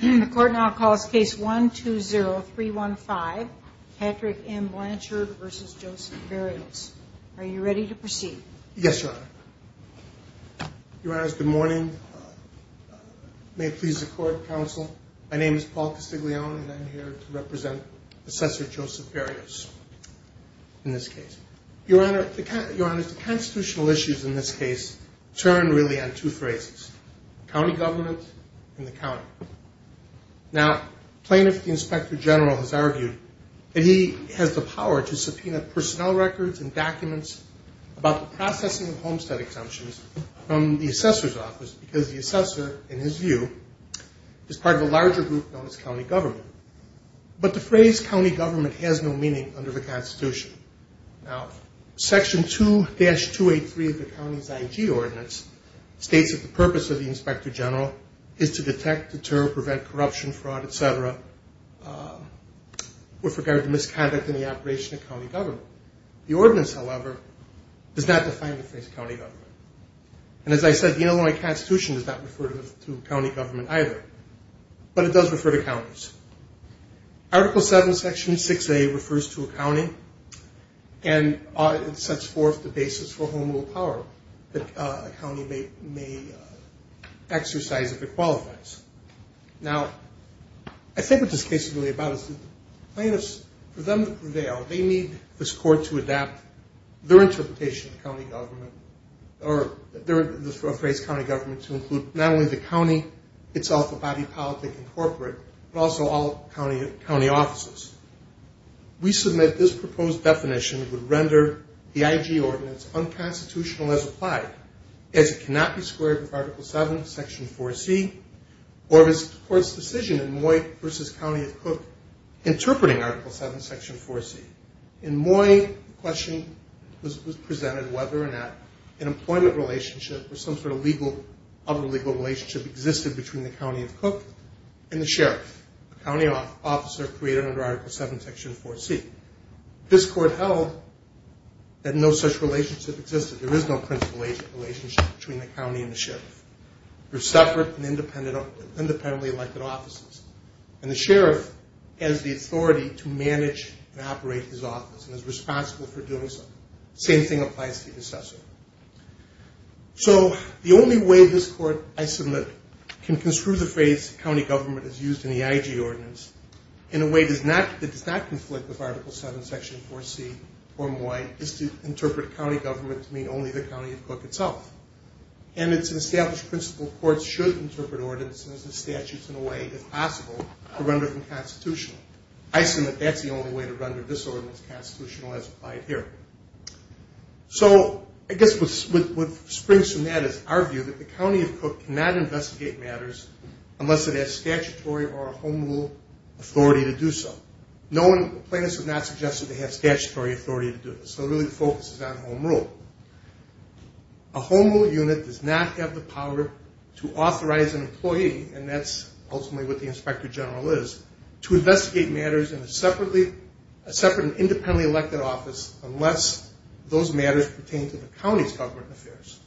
The court now calls case 120315, Patrick M. Blanchard v. Joseph Berrios. Are you ready to proceed? Yes, Your Honor. Your Honors, good morning. May it please the court, counsel. My name is Paul Castiglione and I'm here to represent Assessor Joseph Berrios in this case. Your Honor, the constitutional issues in this case turn really on two phrases. County government and the county. Now, plaintiff inspector general has argued that he has the power to subpoena personnel records and documents about the processing of homestead exemptions from the assessor's office because the assessor, in his view, is part of a larger group known as county government. But the phrase county government has no meaning under the Constitution. Now, section 2-283 of the county's IG ordinance states that the purpose of the inspector general is to detect, deter, prevent corruption, fraud, etc. with regard to misconduct in the operation of county government. The ordinance, however, does not define the phrase county government. And as I said, the Illinois Constitution does not refer to county government either. But it does refer to counties. Article 7, section 6A refers to a county and it sets forth the basis for home rule power that a county may exercise if it qualifies. Now, I think what this case is really about is plaintiffs, for them to prevail, they need this court to adapt their interpretation of county government or their phrase county government to include not only the county itself, but also body politic and corporate, but also all county offices. We submit this proposed definition would render the IG ordinance unconstitutional as applied as it cannot be squared with Article 7, section 4C, or the court's decision in Moy v. County of Cook interpreting Article 7, section 4C. In Moy, the question was presented whether or not an employment relationship or some sort of other legal relationship existed between the county of Cook and the sheriff, a county officer created under Article 7, section 4C. This court held that no such relationship existed. There is no principal agent relationship between the county and the sheriff. They're separate and independently elected offices. And the sheriff has the authority to manage and operate his office and is responsible for doing so. Same thing applies to the assessor. So the only way this court I submit can construe the phrase county government as used in the IG ordinance in a way that does not conflict with Article 7, section 4C or Moy is to interpret county government to mean only the county of Cook itself. And it's an established principle courts should interpret ordinances and statutes in a way if possible to render them constitutional. I submit that's the only way to render this ordinance constitutional as applied here. So I guess what springs from that is our view that the county of Cook cannot investigate matters unless it has statutory or a home rule authority to do so. Plaintiffs have not suggested they have statutory authority to do this. So really the focus is on home rule. A home rule unit does not have the power to authorize an employee, and that's ultimately what the inspector general is, to investigate matters in a separate and independently elected office unless those matters pertain to the county's government affairs.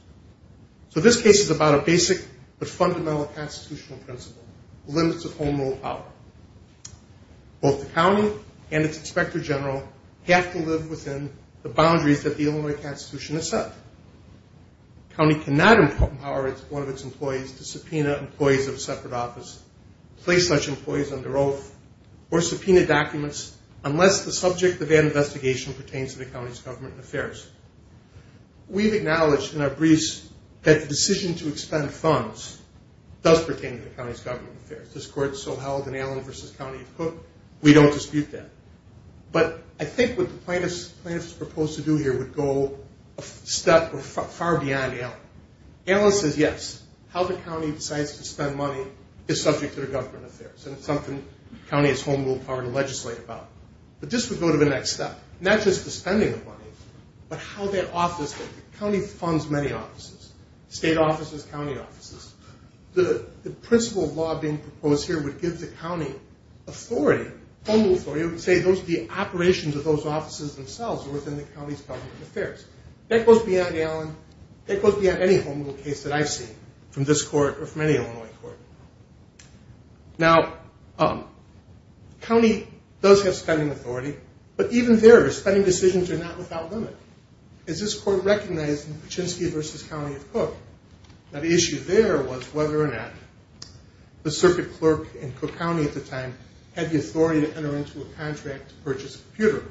So this case is about a basic but fundamental constitutional principle, limits of home rule power. Both the county and its inspector general have to live within the boundaries that the Illinois Constitution has set. The county cannot empower one of its employees to subpoena employees of a separate office, place such employees under oath, or subpoena documents unless the subject of an investigation pertains to the county's government affairs. We've acknowledged in our briefs that the decision to expend funds does pertain to the county's government affairs. This court so held in Allen v. County of Cook, we don't dispute that. But I think what the plaintiffs proposed to do here would go a step far beyond Allen. Allen says yes, how the county decides to spend money is subject to their government affairs, and it's something the county has home rule power to legislate about. But this would go to the next step. Not just the spending of money, but how that office, the county funds many offices, state offices, county offices. The principle law being proposed here would give the county authority, home rule authority, it would say the operations of those offices themselves are within the county's government affairs. That goes beyond Allen, that goes beyond any home rule case that I've seen from this court or from any Illinois court. Now, the county does have spending authority, but even there, spending decisions are not without limit. As this court recognized in Kuczynski v. County of Cook, the issue there was whether or not the circuit clerk in Cook County at the time had the authority to enter into a contract to purchase a computer.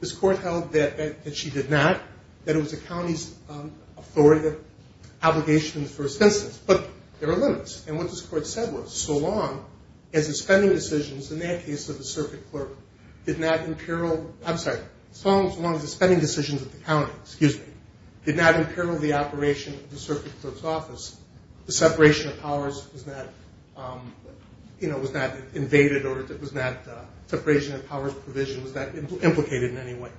This court held that she did not, that it was the county's authority, obligation in the first instance, but there are limits. And what this court said was, so long as the spending decisions, in that case of the circuit clerk, did not imperil, I'm sorry, so long as the spending decisions of the county, excuse me, did not imperil the operation of the circuit clerk's office, the separation of powers was not invaded, or the separation of powers provision was not implicated in any way.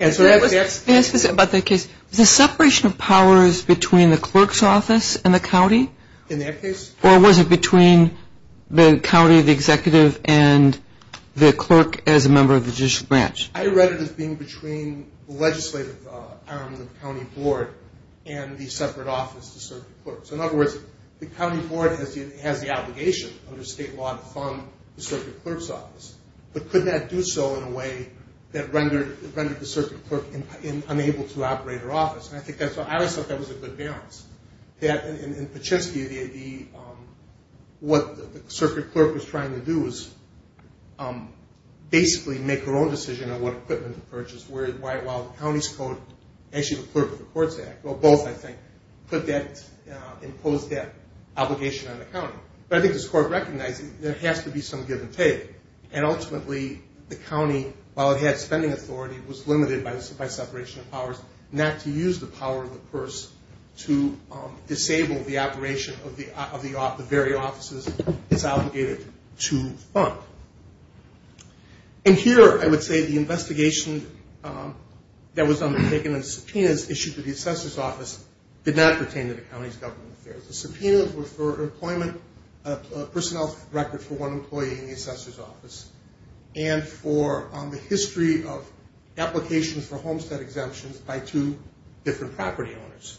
Answer that. Yes, about that case. Was the separation of powers between the clerk's office and the county? In that case? Or was it between the county, the executive, and the clerk as a member of the judicial branch? I read it as being between the legislative arm of the county board and the separate office of the circuit clerk. So, in other words, the county board has the obligation under state law to fund the circuit clerk's office. But could that do so in a way that rendered the circuit clerk unable to operate her office? And I always thought that was a good balance. That in Paczynski, what the circuit clerk was trying to do was basically make her own decision on what equipment to purchase, while the county's code, actually the clerk of the courts act, well both I think, imposed that obligation on the county. But I think this court recognized there has to be some give and take. And ultimately, the county, while it had spending authority, was limited by separation of powers not to use the power of the purse to disable the operation of the very offices it's obligated to fund. And here, I would say the investigation that was undertaken and the subpoenas issued to the assessor's office did not pertain to the county's government affairs. The subpoenas were for an employment personnel record for one employee in the assessor's office, and for the history of applications for homestead exemptions by two different property owners.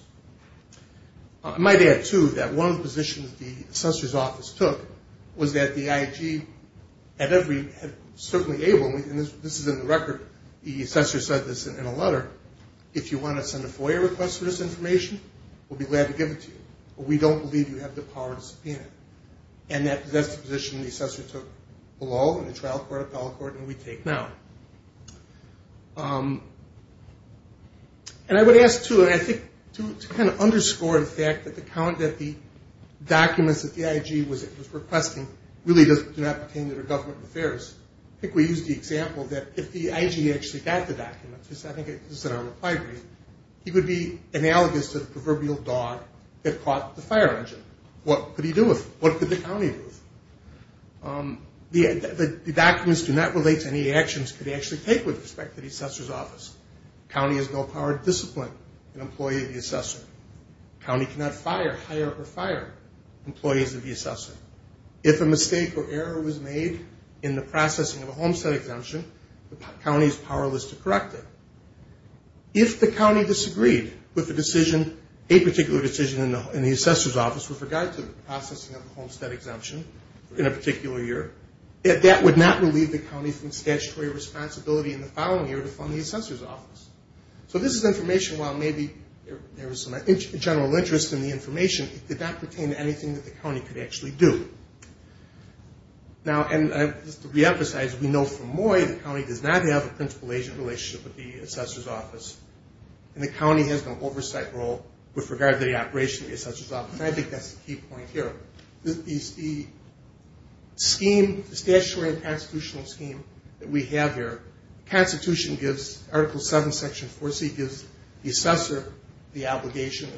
I might add, too, that one of the positions the assessor's office took was that the IG at every, certainly able, and this is in the record, the assessor said this in a letter, if you want to send a FOIA request for this information, we'll be glad to give it to you, but we don't believe you have the power to subpoena it. And that's the position the assessor took below, in the trial court, appellate court, and we take now. And I would ask, too, and I think to kind of underscore the fact that the documents that the IG was requesting really do not pertain to their government affairs. I think we used the example that if the IG actually got the documents, I think this is in our reply brief, he would be analogous to the proverbial dog that caught the fire engine. What could he do with it? What could the county do with it? The documents do not relate to any actions that could actually take with respect to the assessor's office. The county has no power to discipline an employee of the assessor. The county cannot fire, hire, or fire employees of the assessor. If a mistake or error was made in the processing of a homestead exemption, the county is powerless to correct it. If the county disagreed with a decision, a particular decision in the assessor's office with regard to the processing of a homestead exemption in a particular year, that would not relieve the county from statutory responsibility in the following year to fund the assessor's office. So this is information, while maybe there was some general interest in the information, it did not pertain to anything that the county could actually do. Now, and just to reemphasize, we know from MOI the county does not have a principal-agent relationship with the assessor's office. And the county has no oversight role with regard to the operation of the assessor's office. And I think that's the key point here. The statutory and constitutional scheme that we have here, the Constitution gives, Article 7, Section 4C, gives the assessor the obligation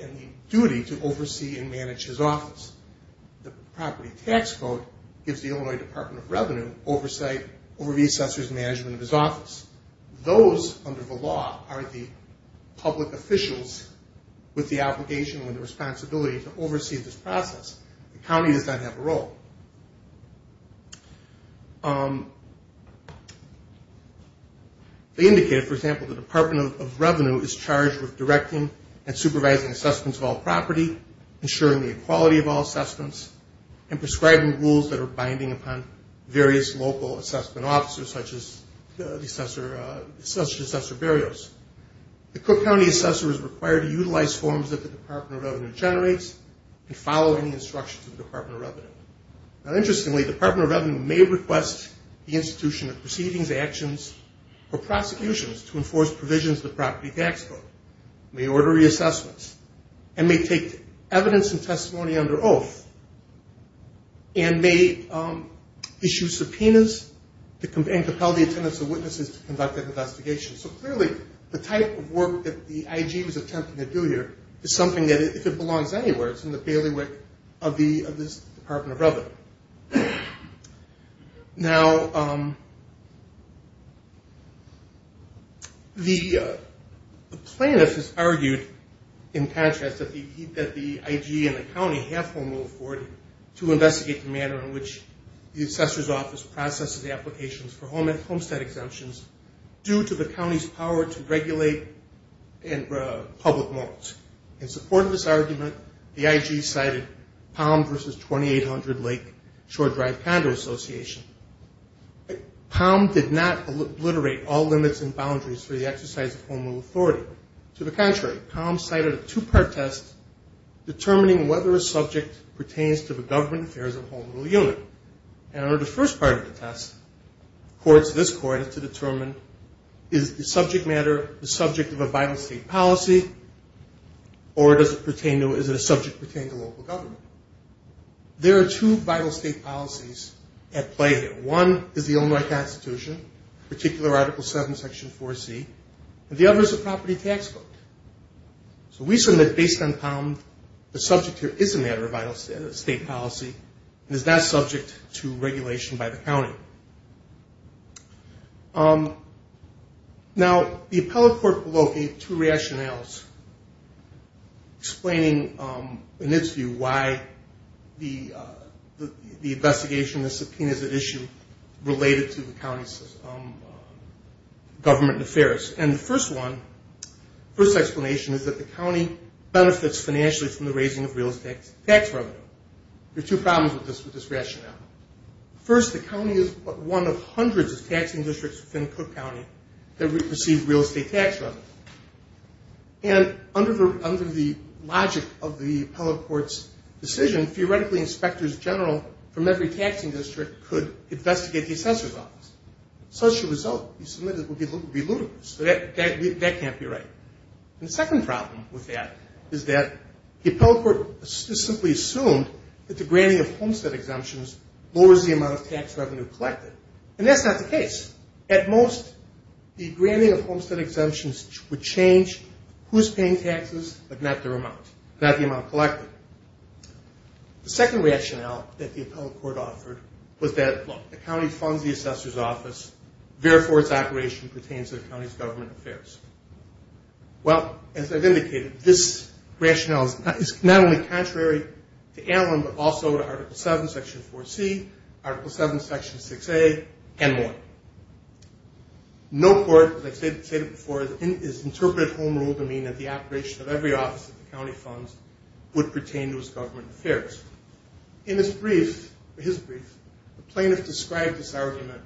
and the duty to oversee and manage his office. The Property Tax Code gives the Illinois Department of Revenue oversight over the assessor's management of his office. Those, under the law, are the public officials with the obligation and the responsibility to oversee this process. The county does not have a role. They indicate, for example, the Department of Revenue is charged with directing and supervising assessments of all property, ensuring the equality of all assessments, and prescribing rules that are binding upon various local assessment officers, such as the assessor barrios. The Cook County assessor is required to utilize forms that the Department of Revenue generates and follow any instructions of the Department of Revenue. Now, interestingly, the Department of Revenue may request the institution of proceedings, actions, or prosecutions to enforce provisions of the Property Tax Code, may order reassessments, and may take evidence and testimony under oath, and may issue subpoenas and compel the attendance of witnesses to conduct an investigation. So, clearly, the type of work that the IG was attempting to do here is something that, if it belongs anywhere, it's in the bailiwick of this Department of Revenue. Now, the plaintiff has argued, in contrast, that the IG and the county have formal authority to investigate the manner in which the assessor's office processes applications for homestead exemptions due to the county's power to regulate public morals. In support of this argument, the IG cited Palm v. 2800 Lake Shore Drive Condo Association. Palm did not obliterate all limits and boundaries for the exercise of home rule authority. To the contrary, Palm cited a two-part test determining whether a subject pertains to the government affairs of a home rule unit. And under the first part of the test, courts of this court had to determine, is the subject matter the subject of a vital state policy, or does it pertain to, is it a subject pertaining to local government? There are two vital state policies at play here. One is the Illinois Constitution, particular Article 7, Section 4C, and the other is a property tax code. So we submit, based on Palm, the subject here is a matter of vital state policy, and is not subject to regulation by the county. Now, the appellate court will locate two rationales explaining, in its view, why the investigation, the subpoenas at issue, related to the county's government affairs. And the first one, the first explanation is that the county benefits financially from the raising of real estate tax revenue. There are two problems with this rationale. First, the county is one of hundreds of taxing districts within Cook County that receive real estate tax revenue. And under the logic of the appellate court's decision, theoretically, inspectors general from every taxing district could investigate the assessor's office. Such a result would be ludicrous. That can't be right. And the second problem with that is that the appellate court simply assumed that the granting of homestead exemptions lowers the amount of tax revenue collected, and that's not the case. At most, the granting of homestead exemptions would change who's paying taxes, but not their amount, not the amount collected. The second rationale that the appellate court offered was that, look, the county funds the assessor's office, therefore its operation pertains to the county's government affairs. Well, as I've indicated, this rationale is not only contrary to Allen but also to Article 7, Section 4C, Article 7, Section 6A, and more. No court, as I stated before, has interpreted home rule to mean that the operation of every office of the county funds would pertain to its government affairs. In his brief, the plaintiff described this argument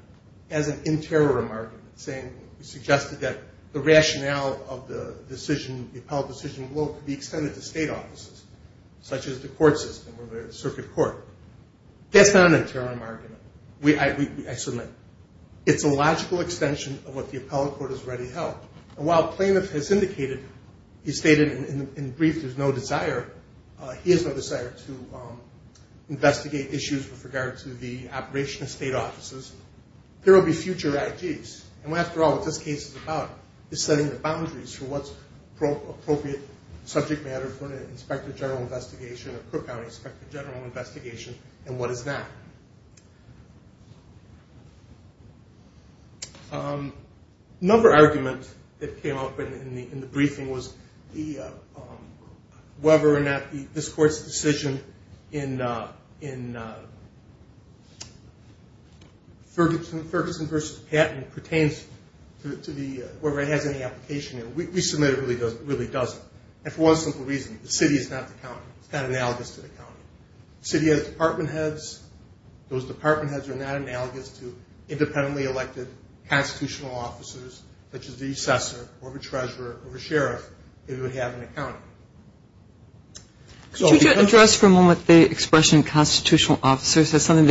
as an interim argument, saying he suggested that the rationale of the decision, the appellate decision will be extended to state offices, such as the court system or the circuit court. That's not an interim argument. It's a logical extension of what the appellate court has already held. And while the plaintiff has indicated, he stated in the brief there's no desire, he has no desire to investigate issues with regard to the operation of state offices. There will be future IGs. And, after all, what this case is about is setting the boundaries for what's appropriate subject matter for an inspector general investigation, a Cook County inspector general investigation, and what is that. Another argument that came up in the briefing was whether or not this court's decision in Ferguson v. Patton pertains to whoever has any application. We submit it really doesn't. And for one simple reason, the city is not the county. It's not analogous to the county. The city has department heads. Those department heads are not analogous to independently elected constitutional officers, such as the assessor or the treasurer or the sheriff who would have an account. Could you address for a moment the expression constitutional officers? That's an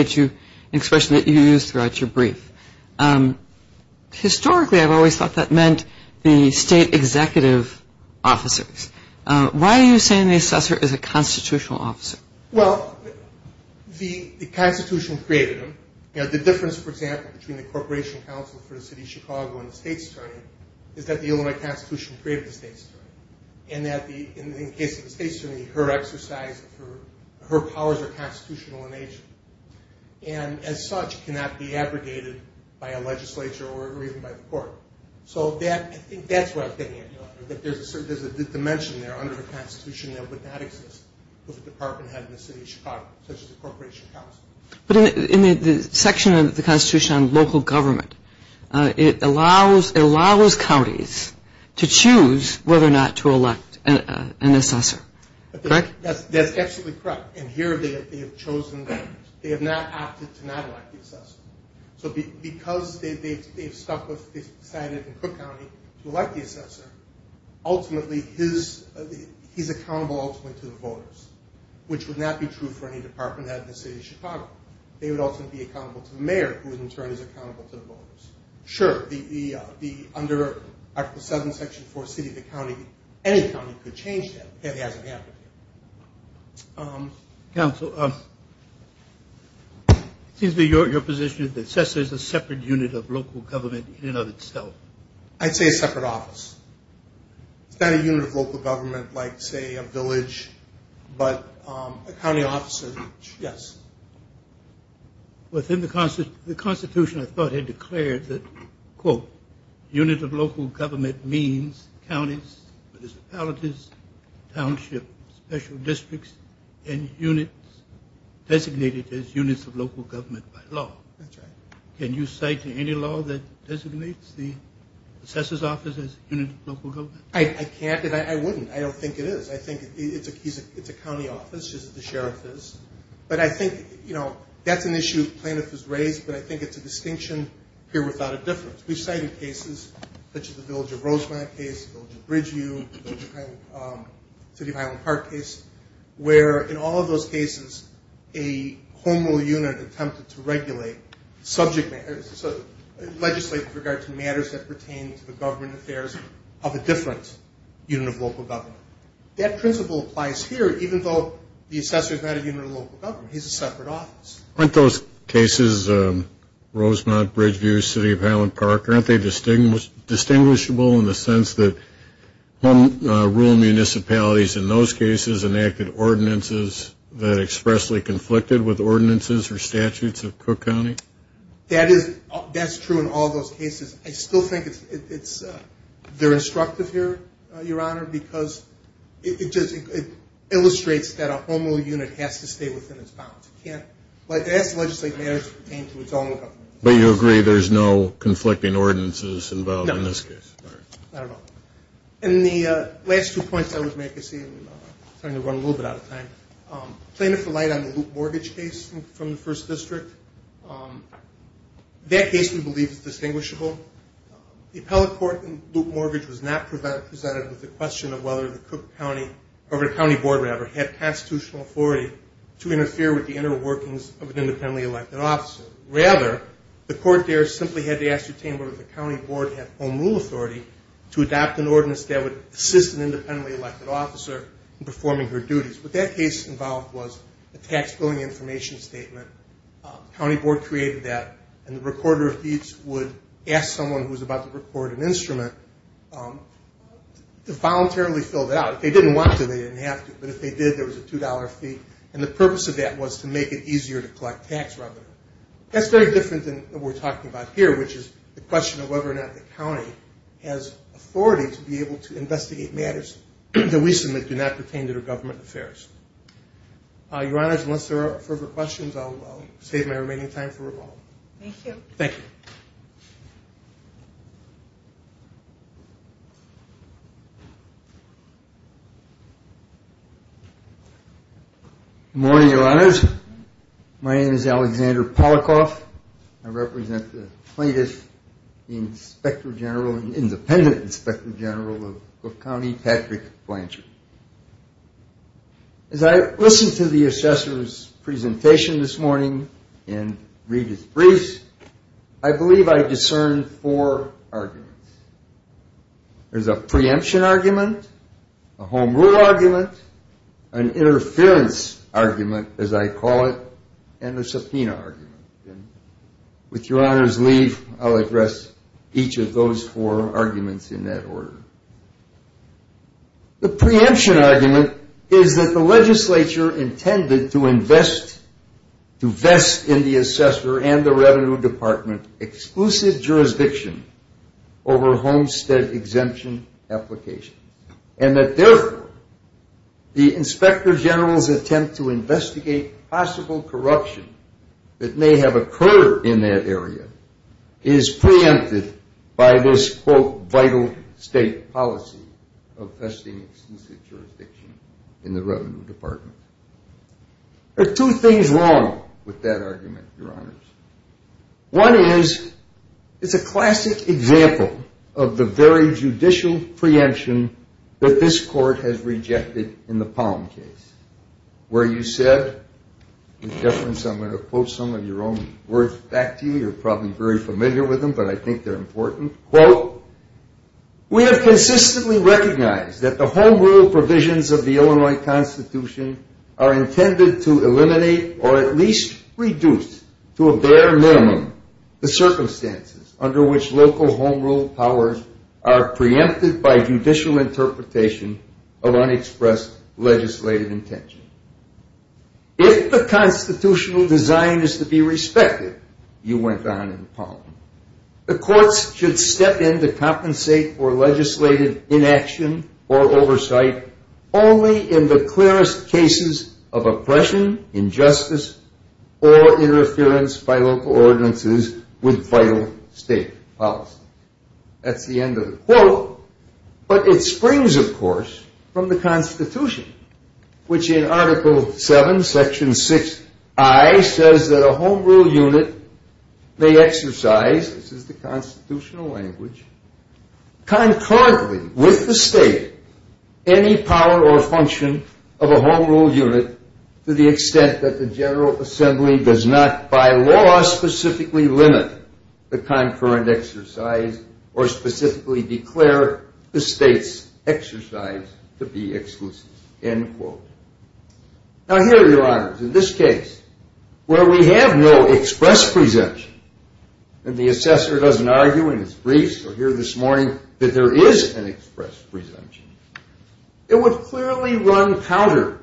expression that you used throughout your brief. Historically, I've always thought that meant the state executive officers. Why are you saying the assessor is a constitutional officer? Well, the Constitution created them. The difference, for example, between the Corporation Council for the City of Chicago and the state's attorney is that the Illinois Constitution created the state's attorney and that, in the case of the state's attorney, her powers are constitutional in nature and, as such, cannot be abrogated by a legislature or even by the court. So I think that's what I'm getting at, that there's a dimension there under the Constitution that would not exist with a department head in the City of Chicago, such as the Corporation Council. But in the section of the Constitution on local government, it allows counties to choose whether or not to elect an assessor. Correct? That's absolutely correct. And here they have not opted to not elect the assessor. So because they've decided in Cook County to elect the assessor, ultimately he's accountable to the voters, which would not be true for any department head in the City of Chicago. They would also be accountable to the mayor, who in turn is accountable to the voters. Sure. Under Article 7, Section 4, City of the County, any county could change that. That hasn't happened here. Counsel, it seems to be your position that the assessor is a separate unit of local government in and of itself. I'd say a separate office. It's not a unit of local government like, say, a village, but a county office. Yes. Within the Constitution, I thought it declared that, quote, unit of local government means counties, municipalities, townships, special districts, and units designated as units of local government by law. That's right. Can you cite any law that designates the assessor's office as a unit of local government? I can't, and I wouldn't. I don't think it is. I think it's a county office, just as the sheriff is. But I think, you know, that's an issue plaintiff has raised, but I think it's a distinction here without a difference. We've cited cases such as the Village of Rosemont case, the Village of Bridgeview, the City of Highland Park case, where in all of those cases, a home rule unit attempted to regulate subject matters, legislate with regard to matters that pertain to the government affairs of a different unit of local government. That principle applies here, even though the assessor is not a unit of local government. He's a separate office. Aren't those cases, Rosemont, Bridgeview, City of Highland Park, aren't they distinguishable in the sense that home rule municipalities in those cases enacted ordinances that expressly conflicted with ordinances or statutes of Cook County? That's true in all those cases. I still think they're instructive here, Your Honor, because it illustrates that a home rule unit has to stay within its bounds. It has to legislate matters pertaining to its own government. But you agree there's no conflicting ordinances involved in this case? No. I don't know. And the last two points I would make, I see I'm starting to run a little bit out of time. Plain and polite on the Loop Mortgage case from the First District, that case we believe is distinguishable. The appellate court in Loop Mortgage was not presented with the question of whether the Cook County, or the county board, rather, had constitutional authority to interfere with the inner workings of an independently elected officer. Rather, the court there simply had to ascertain whether the county board had home rule authority to adopt an ordinance that would assist an independently elected officer in performing her duties. What that case involved was a tax billing information statement. The county board created that. And the recorder of fees would ask someone who was about to record an instrument to voluntarily fill that out. If they didn't want to, they didn't have to. But if they did, there was a $2 fee. And the purpose of that was to make it easier to collect tax revenue. That's very different than what we're talking about here, which is the question of whether or not the county has authority to be able to investigate matters that we submit do not pertain to their government affairs. Your Honors, unless there are further questions, I'll save my remaining time for revolve. Thank you. Thank you. Good morning, Your Honors. My name is Alexander Polikoff. I represent the plaintiff, the Inspector General, the independent Inspector General of Cook County, Patrick Blanchard. As I listened to the assessor's presentation this morning and read his briefs, I believe I discerned four arguments. There's a preemption argument, a home rule argument, an interference argument, as I call it, and a subpoena argument. With Your Honors' leave, I'll address each of those four arguments in that order. The preemption argument is that the legislature intended to invest, in the assessor and the revenue department, exclusive jurisdiction over homestead exemption applications, and that therefore the Inspector General's attempt to investigate possible corruption that may have occurred in that area is preempted by this, quote, vital state policy of investing exclusive jurisdiction in the revenue department. There are two things wrong with that argument, Your Honors. One is it's a classic example of the very judicial preemption that this court has rejected in the Palm case where you said, with deference, I'm going to quote some of your own words back to you. You're probably very familiar with them, but I think they're important, quote, We have consistently recognized that the home rule provisions of the Illinois Constitution are intended to eliminate or at least reduce to a bare minimum the circumstances under which local home rule powers are preempted by judicial interpretation of unexpressed legislative intentions. If the constitutional design is to be respected, you went on in the Palm, the courts should step in to compensate for legislative inaction or oversight only in the clearest cases of oppression, injustice, or interference by local ordinances with vital state policy. That's the end of the quote. But it springs, of course, from the Constitution, which in Article 7, Section 6I says that a home rule unit may exercise, this is the constitutional language, concurrently with the state any power or function of a home rule unit to the extent that the General Assembly does not, by law, specifically limit the concurrent exercise or specifically declare the state's exercise to be exclusive, end quote. Now, here, Your Honors, in this case, where we have no express presumption, and the assessor doesn't argue in his briefs or here this morning that there is an express presumption, it would clearly run counter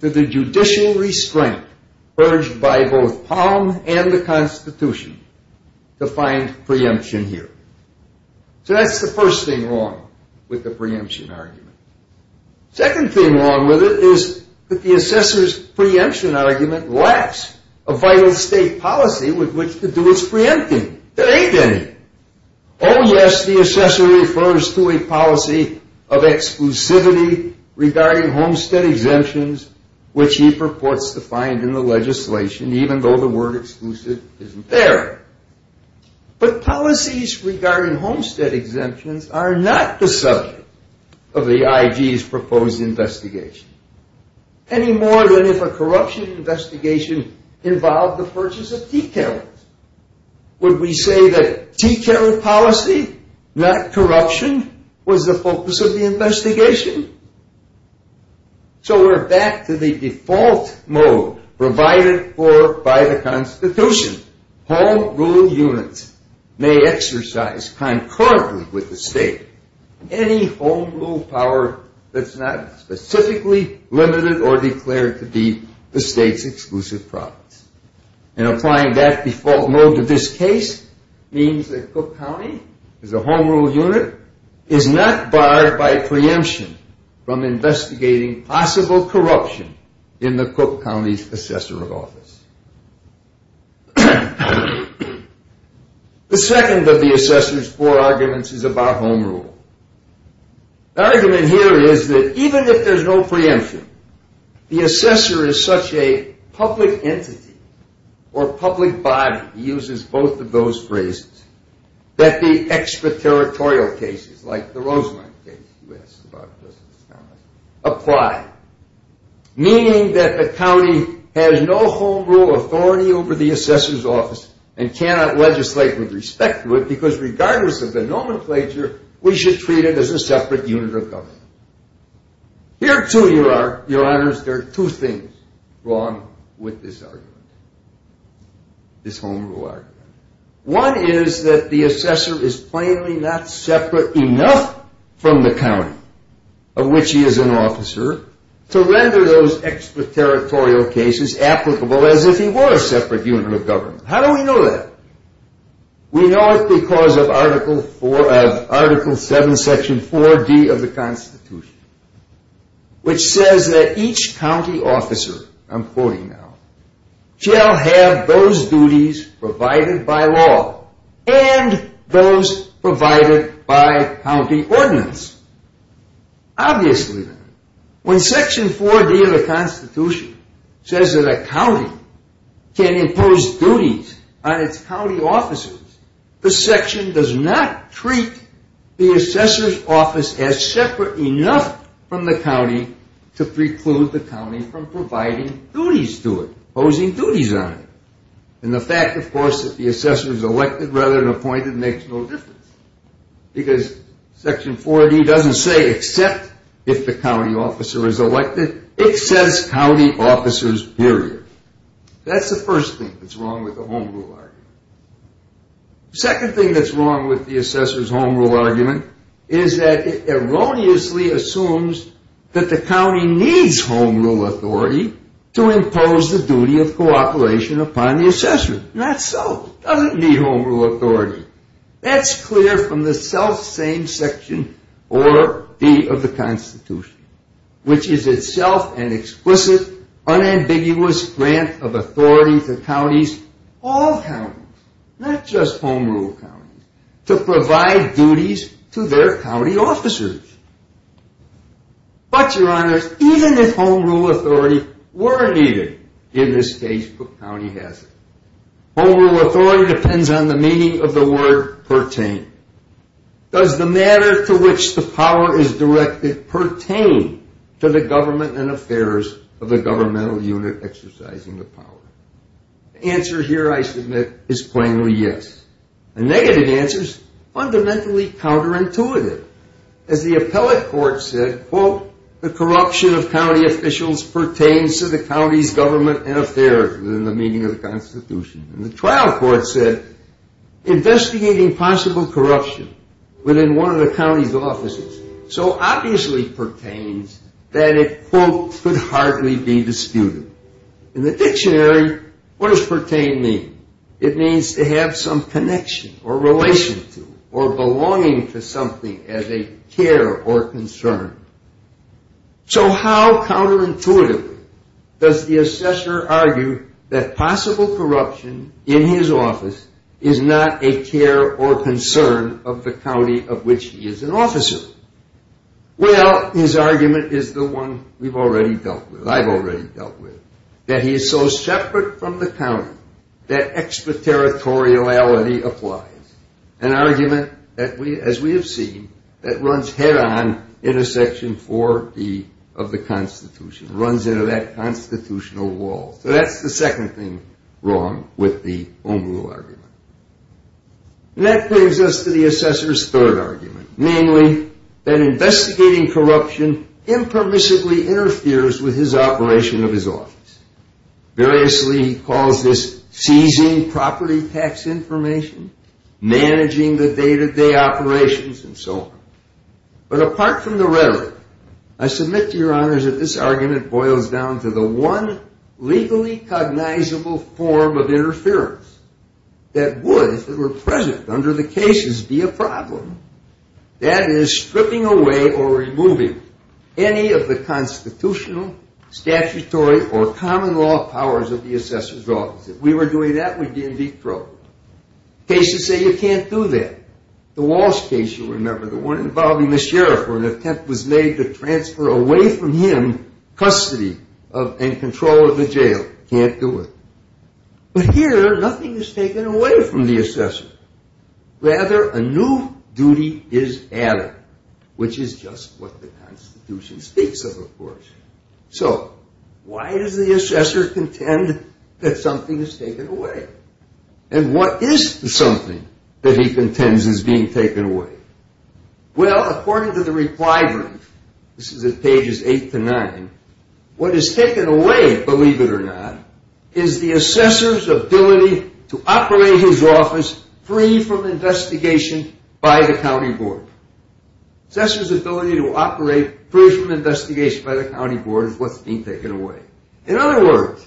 to the judicial restraint purged by both Palm and the Constitution to find preemption here. So that's the first thing wrong with the preemption argument. Second thing wrong with it is that the assessor's preemption argument lacks a vital state policy with which to do its preempting. There ain't any. Oh, yes, the assessor refers to a policy of exclusivity regarding homestead exemptions, which he purports to find in the legislation, even though the word exclusive isn't there. But policies regarding homestead exemptions are not the subject of the IG's proposed investigation, any more than if a corruption investigation involved the purchase of tea carols. Would we say that tea carol policy, not corruption, was the focus of the investigation? So we're back to the default mode provided for by the Constitution. Home rule units may exercise concurrently with the state any home rule power that's not specifically limited or declared to be the state's exclusive province. And applying that default mode to this case means that Cook County, as a home rule unit, is not barred by preemption from investigating possible corruption in the Cook County's assessor of office. The second of the assessor's four arguments is about home rule. The argument here is that even if there's no preemption, the assessor is such a public entity or public body, he uses both of those phrases, that the extraterritorial cases, like the Rosemont case you asked about, apply, meaning that the county has no home rule authority over the assessor's office and cannot legislate with respect to it because regardless of the nomenclature, we should treat it as a separate unit of government. Here, too, your honors, there are two things wrong with this argument, this home rule argument. One is that the assessor is plainly not separate enough from the county of which he is an officer to render those extraterritorial cases applicable as if he were a separate unit of government. How do we know that? We know it because of Article 7, Section 4D of the Constitution, which says that each county officer, I'm quoting now, shall have those duties provided by law and those provided by county ordinance. Obviously, when Section 4D of the Constitution says that a county can impose duties on its county officers, the section does not treat the assessor's office as separate enough from the county to preclude the county from providing duties to it, imposing duties on it. And the fact, of course, that the assessor is elected rather than appointed makes no difference because Section 4D doesn't say except if the county officer is elected. It says county officers, period. That's the first thing that's wrong with the home rule argument. The second thing that's wrong with the assessor's home rule argument is that it erroneously assumes that the county needs home rule authority to impose the duty of cooperation upon the assessor. Not so. It doesn't need home rule authority. That's clear from the selfsame Section 4D of the Constitution, which is itself an explicit, unambiguous grant of authority to counties, all counties, not just home rule counties, to provide duties to their county officers. But, Your Honors, even if home rule authority were needed, in this case, the county has it. Home rule authority depends on the meaning of the word pertain. Does the matter to which the power is directed pertain to the government and affairs of the governmental unit exercising the power? The answer here, I submit, is plainly yes. The negative answer is fundamentally counterintuitive. As the appellate court said, quote, the corruption of county officials pertains to the county's government and affairs within the meaning of the Constitution. And the trial court said, investigating possible corruption within one of the county's offices so obviously pertains that it, quote, could hardly be disputed. In the dictionary, what does pertain mean? It means to have some connection or relation to or belonging to something as a care or concern. So how counterintuitively does the assessor argue that possible corruption in his office is not a care or concern of the county of which he is an officer? Well, his argument is the one we've already dealt with, I've already dealt with, that he is so separate from the county that extraterritoriality applies, an argument, as we have seen, that runs head-on into Section 4B of the Constitution, runs into that constitutional wall. So that's the second thing wrong with the Home Rule argument. And that brings us to the assessor's third argument, namely that investigating corruption impermissibly interferes with his operation of his office. Variously he calls this seizing property tax information, managing the day-to-day operations, and so on. But apart from the rhetoric, I submit to your honors that this argument boils down to the one legally cognizable form of interference that would, if it were present under the cases, be a problem. That is, stripping away or removing any of the constitutional, statutory, or common law powers of the assessor's office. If we were doing that, we'd be in deep trouble. Cases say you can't do that. The Walsh case, you remember, the one involving the sheriff, where an attempt was made to transfer away from him custody and control of the jail. Can't do it. But here, nothing is taken away from the assessor. Rather, a new duty is added, which is just what the Constitution speaks of, of course. So why does the assessor contend that something is taken away? And what is the something that he contends is being taken away? Well, according to the reply brief, this is at pages eight to nine, what is taken away, believe it or not, is the assessor's ability to operate his office free from investigation by the county board. Assessor's ability to operate free from investigation by the county board is what's being taken away. In other words,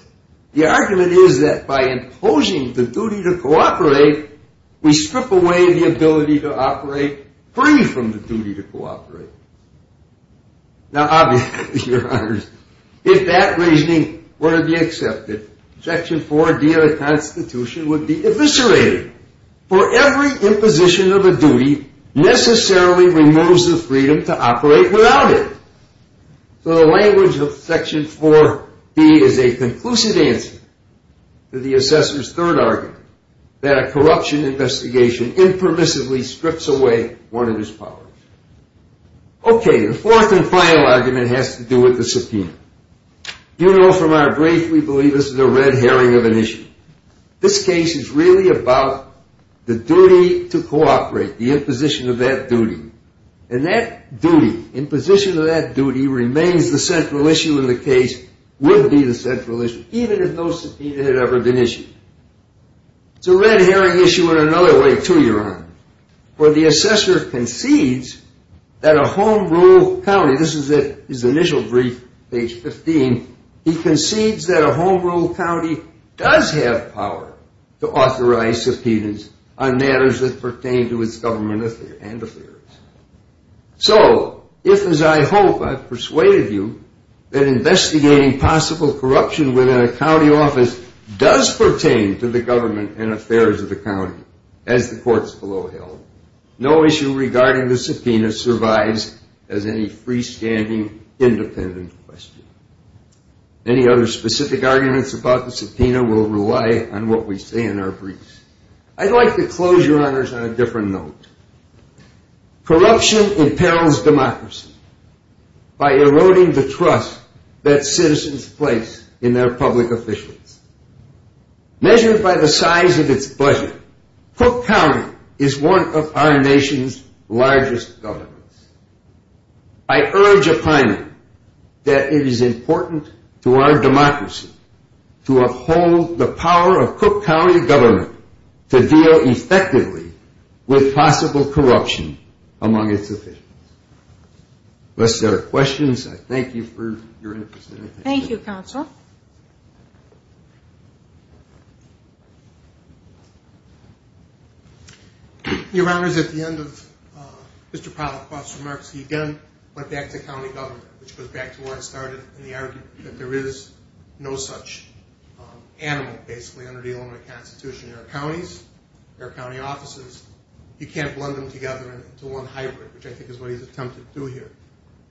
the argument is that by imposing the duty to cooperate, we strip away the ability to operate free from the duty to cooperate. Now, obviously, Your Honors, if that reasoning were to be accepted, Section 4D of the Constitution would be eviscerated. For every imposition of a duty necessarily removes the freedom to operate without it. So the language of Section 4D is a conclusive answer to the assessor's third argument, that a corruption investigation impermissibly strips away one of his powers. Okay, the fourth and final argument has to do with the subpoena. You know from our brief we believe this is a red herring of an issue. This case is really about the duty to cooperate, the imposition of that duty. And that duty, imposition of that duty, remains the central issue in the case, would be the central issue, even if no subpoena had ever been issued. It's a red herring issue in another way, too, Your Honors. For the assessor concedes that a home rule county, this is at his initial brief, page 15, he concedes that a home rule county does have power to authorize subpoenas on matters that pertain to its government and affairs. So if, as I hope I've persuaded you, that investigating possible corruption within a county office does pertain to the government and affairs of the county, as the courts below held, no issue regarding the subpoena survives as any freestanding independent question. Any other specific arguments about the subpoena will rely on what we say in our briefs. I'd like to close, Your Honors, on a different note. Corruption impels democracy by eroding the trust that citizens place in their public officials. Measured by the size of its budget, Cook County is one of our nation's largest governments. I urge upon you that it is important to our democracy to uphold the power of Cook County government to deal effectively with possible corruption among its officials. Unless there are questions, I thank you for your interest. Thank you, Counsel. Your Honors, at the end of Mr. Pollack's remarks, he again went back to county government, which goes back to where it started in the argument that there is no such animal, basically, under the Illinois Constitution. There are counties, there are county offices. You can't blend them together into one hybrid, which I think is what he's attempting to do here.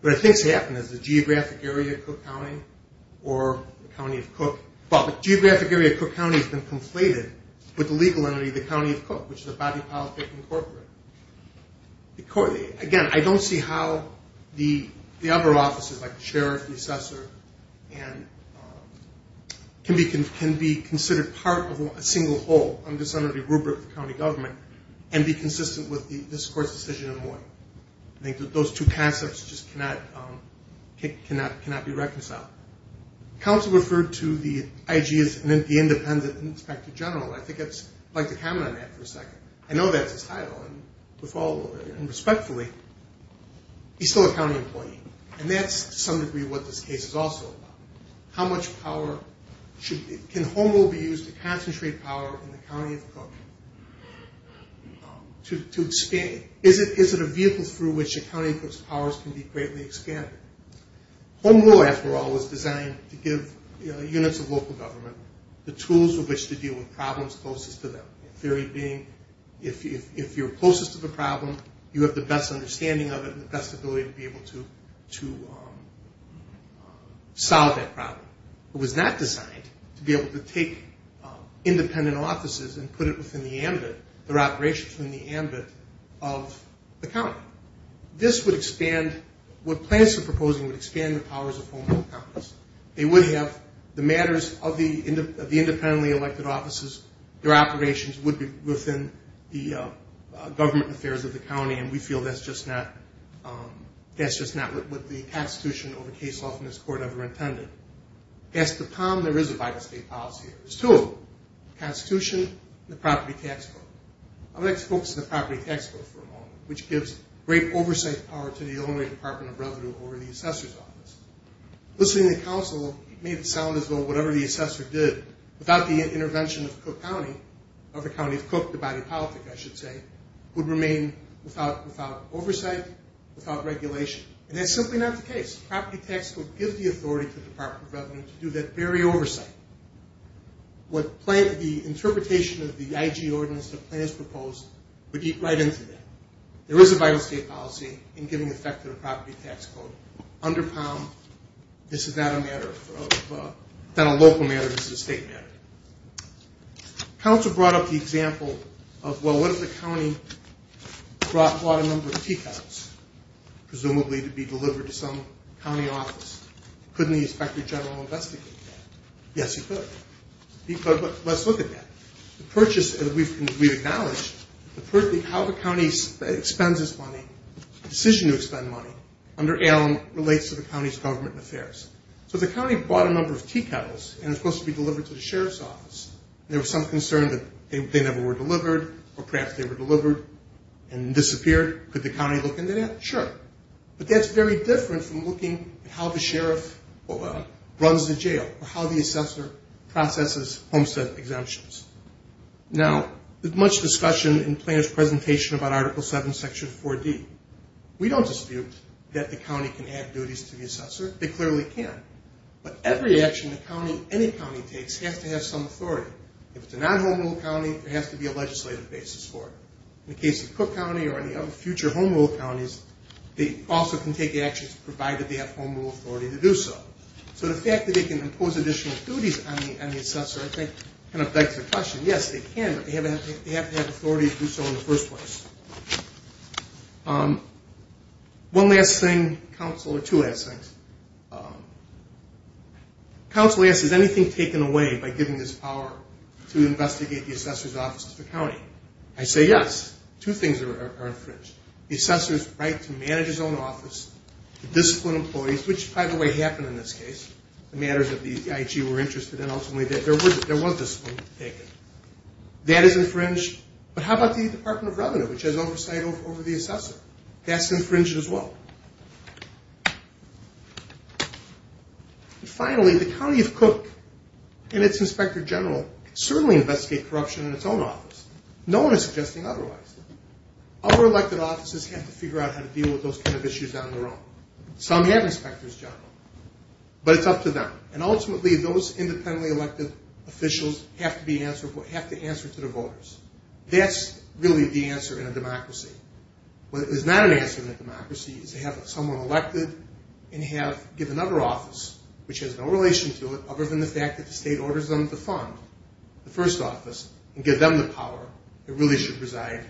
But I think it's happening. There's the geographic area of Cook County, or the county of Cook. But the geographic area of Cook County has been conflated with the legal entity, the county of Cook, which is a body of politics incorporated. Again, I don't see how the other offices, like the sheriff, the assessor, can be considered part of a single whole under some of the rubric of county government and be consistent with this Court's decision in Illinois. I think that those two concepts just cannot be reconciled. Counsel referred to the IG as the independent inspector general. I'd like to comment on that for a second. I know that's his title, and with all due respect, he's still a county employee. And that's, to some degree, what this case is also about. Can home rule be used to concentrate power in the county of Cook? Is it a vehicle through which the county of Cook's powers can be greatly expanded? Home rule, after all, was designed to give units of local government the tools with which to deal with problems closest to them. Theory being, if you're closest to the problem, you have the best understanding of it and the best ability to be able to solve that problem. It was not designed to be able to take independent offices and put it within the ambit, their operations within the ambit of the county. This would expand what plans are proposing would expand the powers of home rule counties. They would have the matters of the independently elected offices, their operations would be within the government affairs of the county, and we feel that's just not what the constitution over case law in this court ever intended. Past the palm, there is a vital state policy. There's two of them, the constitution and the property tax code. I would like to focus on the property tax code for a moment, which gives great oversight power to the Illinois Department of Revenue over the assessor's office. Listening to the counsel made it sound as though whatever the assessor did, without the intervention of Cook County, of the county of Cook, the body of politics, I should say, would remain without oversight, without regulation, and that's simply not the case. The property tax code gives the authority to the Department of Revenue to do that very oversight. The interpretation of the IG ordinance that plans proposed would eat right into that. There is a vital state policy in giving effect to the property tax code. Under palm, this is not a matter of, not a local matter, this is a state matter. Counsel brought up the example of, well, what if the county brought a number of tea kettles, presumably to be delivered to some county office? Couldn't the inspector general investigate that? Yes, he could. But let's look at that. The purchase, and we've acknowledged, how the county spends its money, the decision to spend money under ALM relates to the county's government affairs. So the county brought a number of tea kettles, and it's supposed to be delivered to the sheriff's office. There was some concern that they never were delivered, or perhaps they were delivered and disappeared. Could the county look into that? Sure. But that's very different from looking at how the sheriff runs the jail, or how the assessor processes homestead exemptions. Now, there's much discussion in Planner's presentation about Article 7, Section 4D. We don't dispute that the county can add duties to the assessor. They clearly can. But every action any county takes has to have some authority. If it's a non-home rule county, there has to be a legislative basis for it. In the case of Cook County or any other future home rule counties, they also can take actions provided they have home rule authority to do so. So the fact that they can impose additional duties on the assessor, I think, kind of begs the question. Yes, they can, but they have to have authority to do so in the first place. One last thing, counsel, or two last things. Counsel asks, is anything taken away by giving this power to investigate the assessor's office to the county? I say yes. Two things are infringed. The assessor's right to manage his own office, to discipline employees, which, by the way, happened in this case. The matters that the IG were interested in, ultimately, there was discipline taken. That is infringed. But how about the Department of Revenue, which has oversight over the assessor? That's infringed as well. Finally, the county of Cook and its inspector general certainly investigate corruption in its own office. No one is suggesting otherwise. Our elected offices have to figure out how to deal with those kind of issues on their own. Some have inspectors, John, but it's up to them. Ultimately, those independently elected officials have to answer to the voters. That's really the answer in a democracy. What is not an answer in a democracy is to have someone elected and give another office, which has no relation to it other than the fact that the state orders them to fund the first office and give them the power that really should reside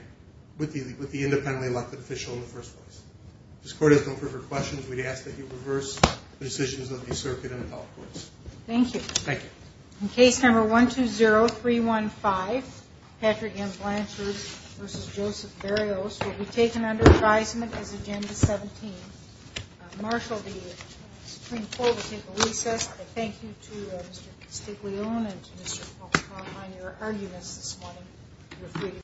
with the independently elected official in the first place. If this court has no further questions, we ask that you reverse the decisions of the circuit and the health courts. Thank you. Thank you. Case number 120315, Patrick M. Blanchard v. Joseph Berrios, will be taken under advisement as Agenda 17. Marshal, the Supreme Court will take a recess. Thank you to Mr. Castiglione and to Mr. Paltrow on your arguments this morning.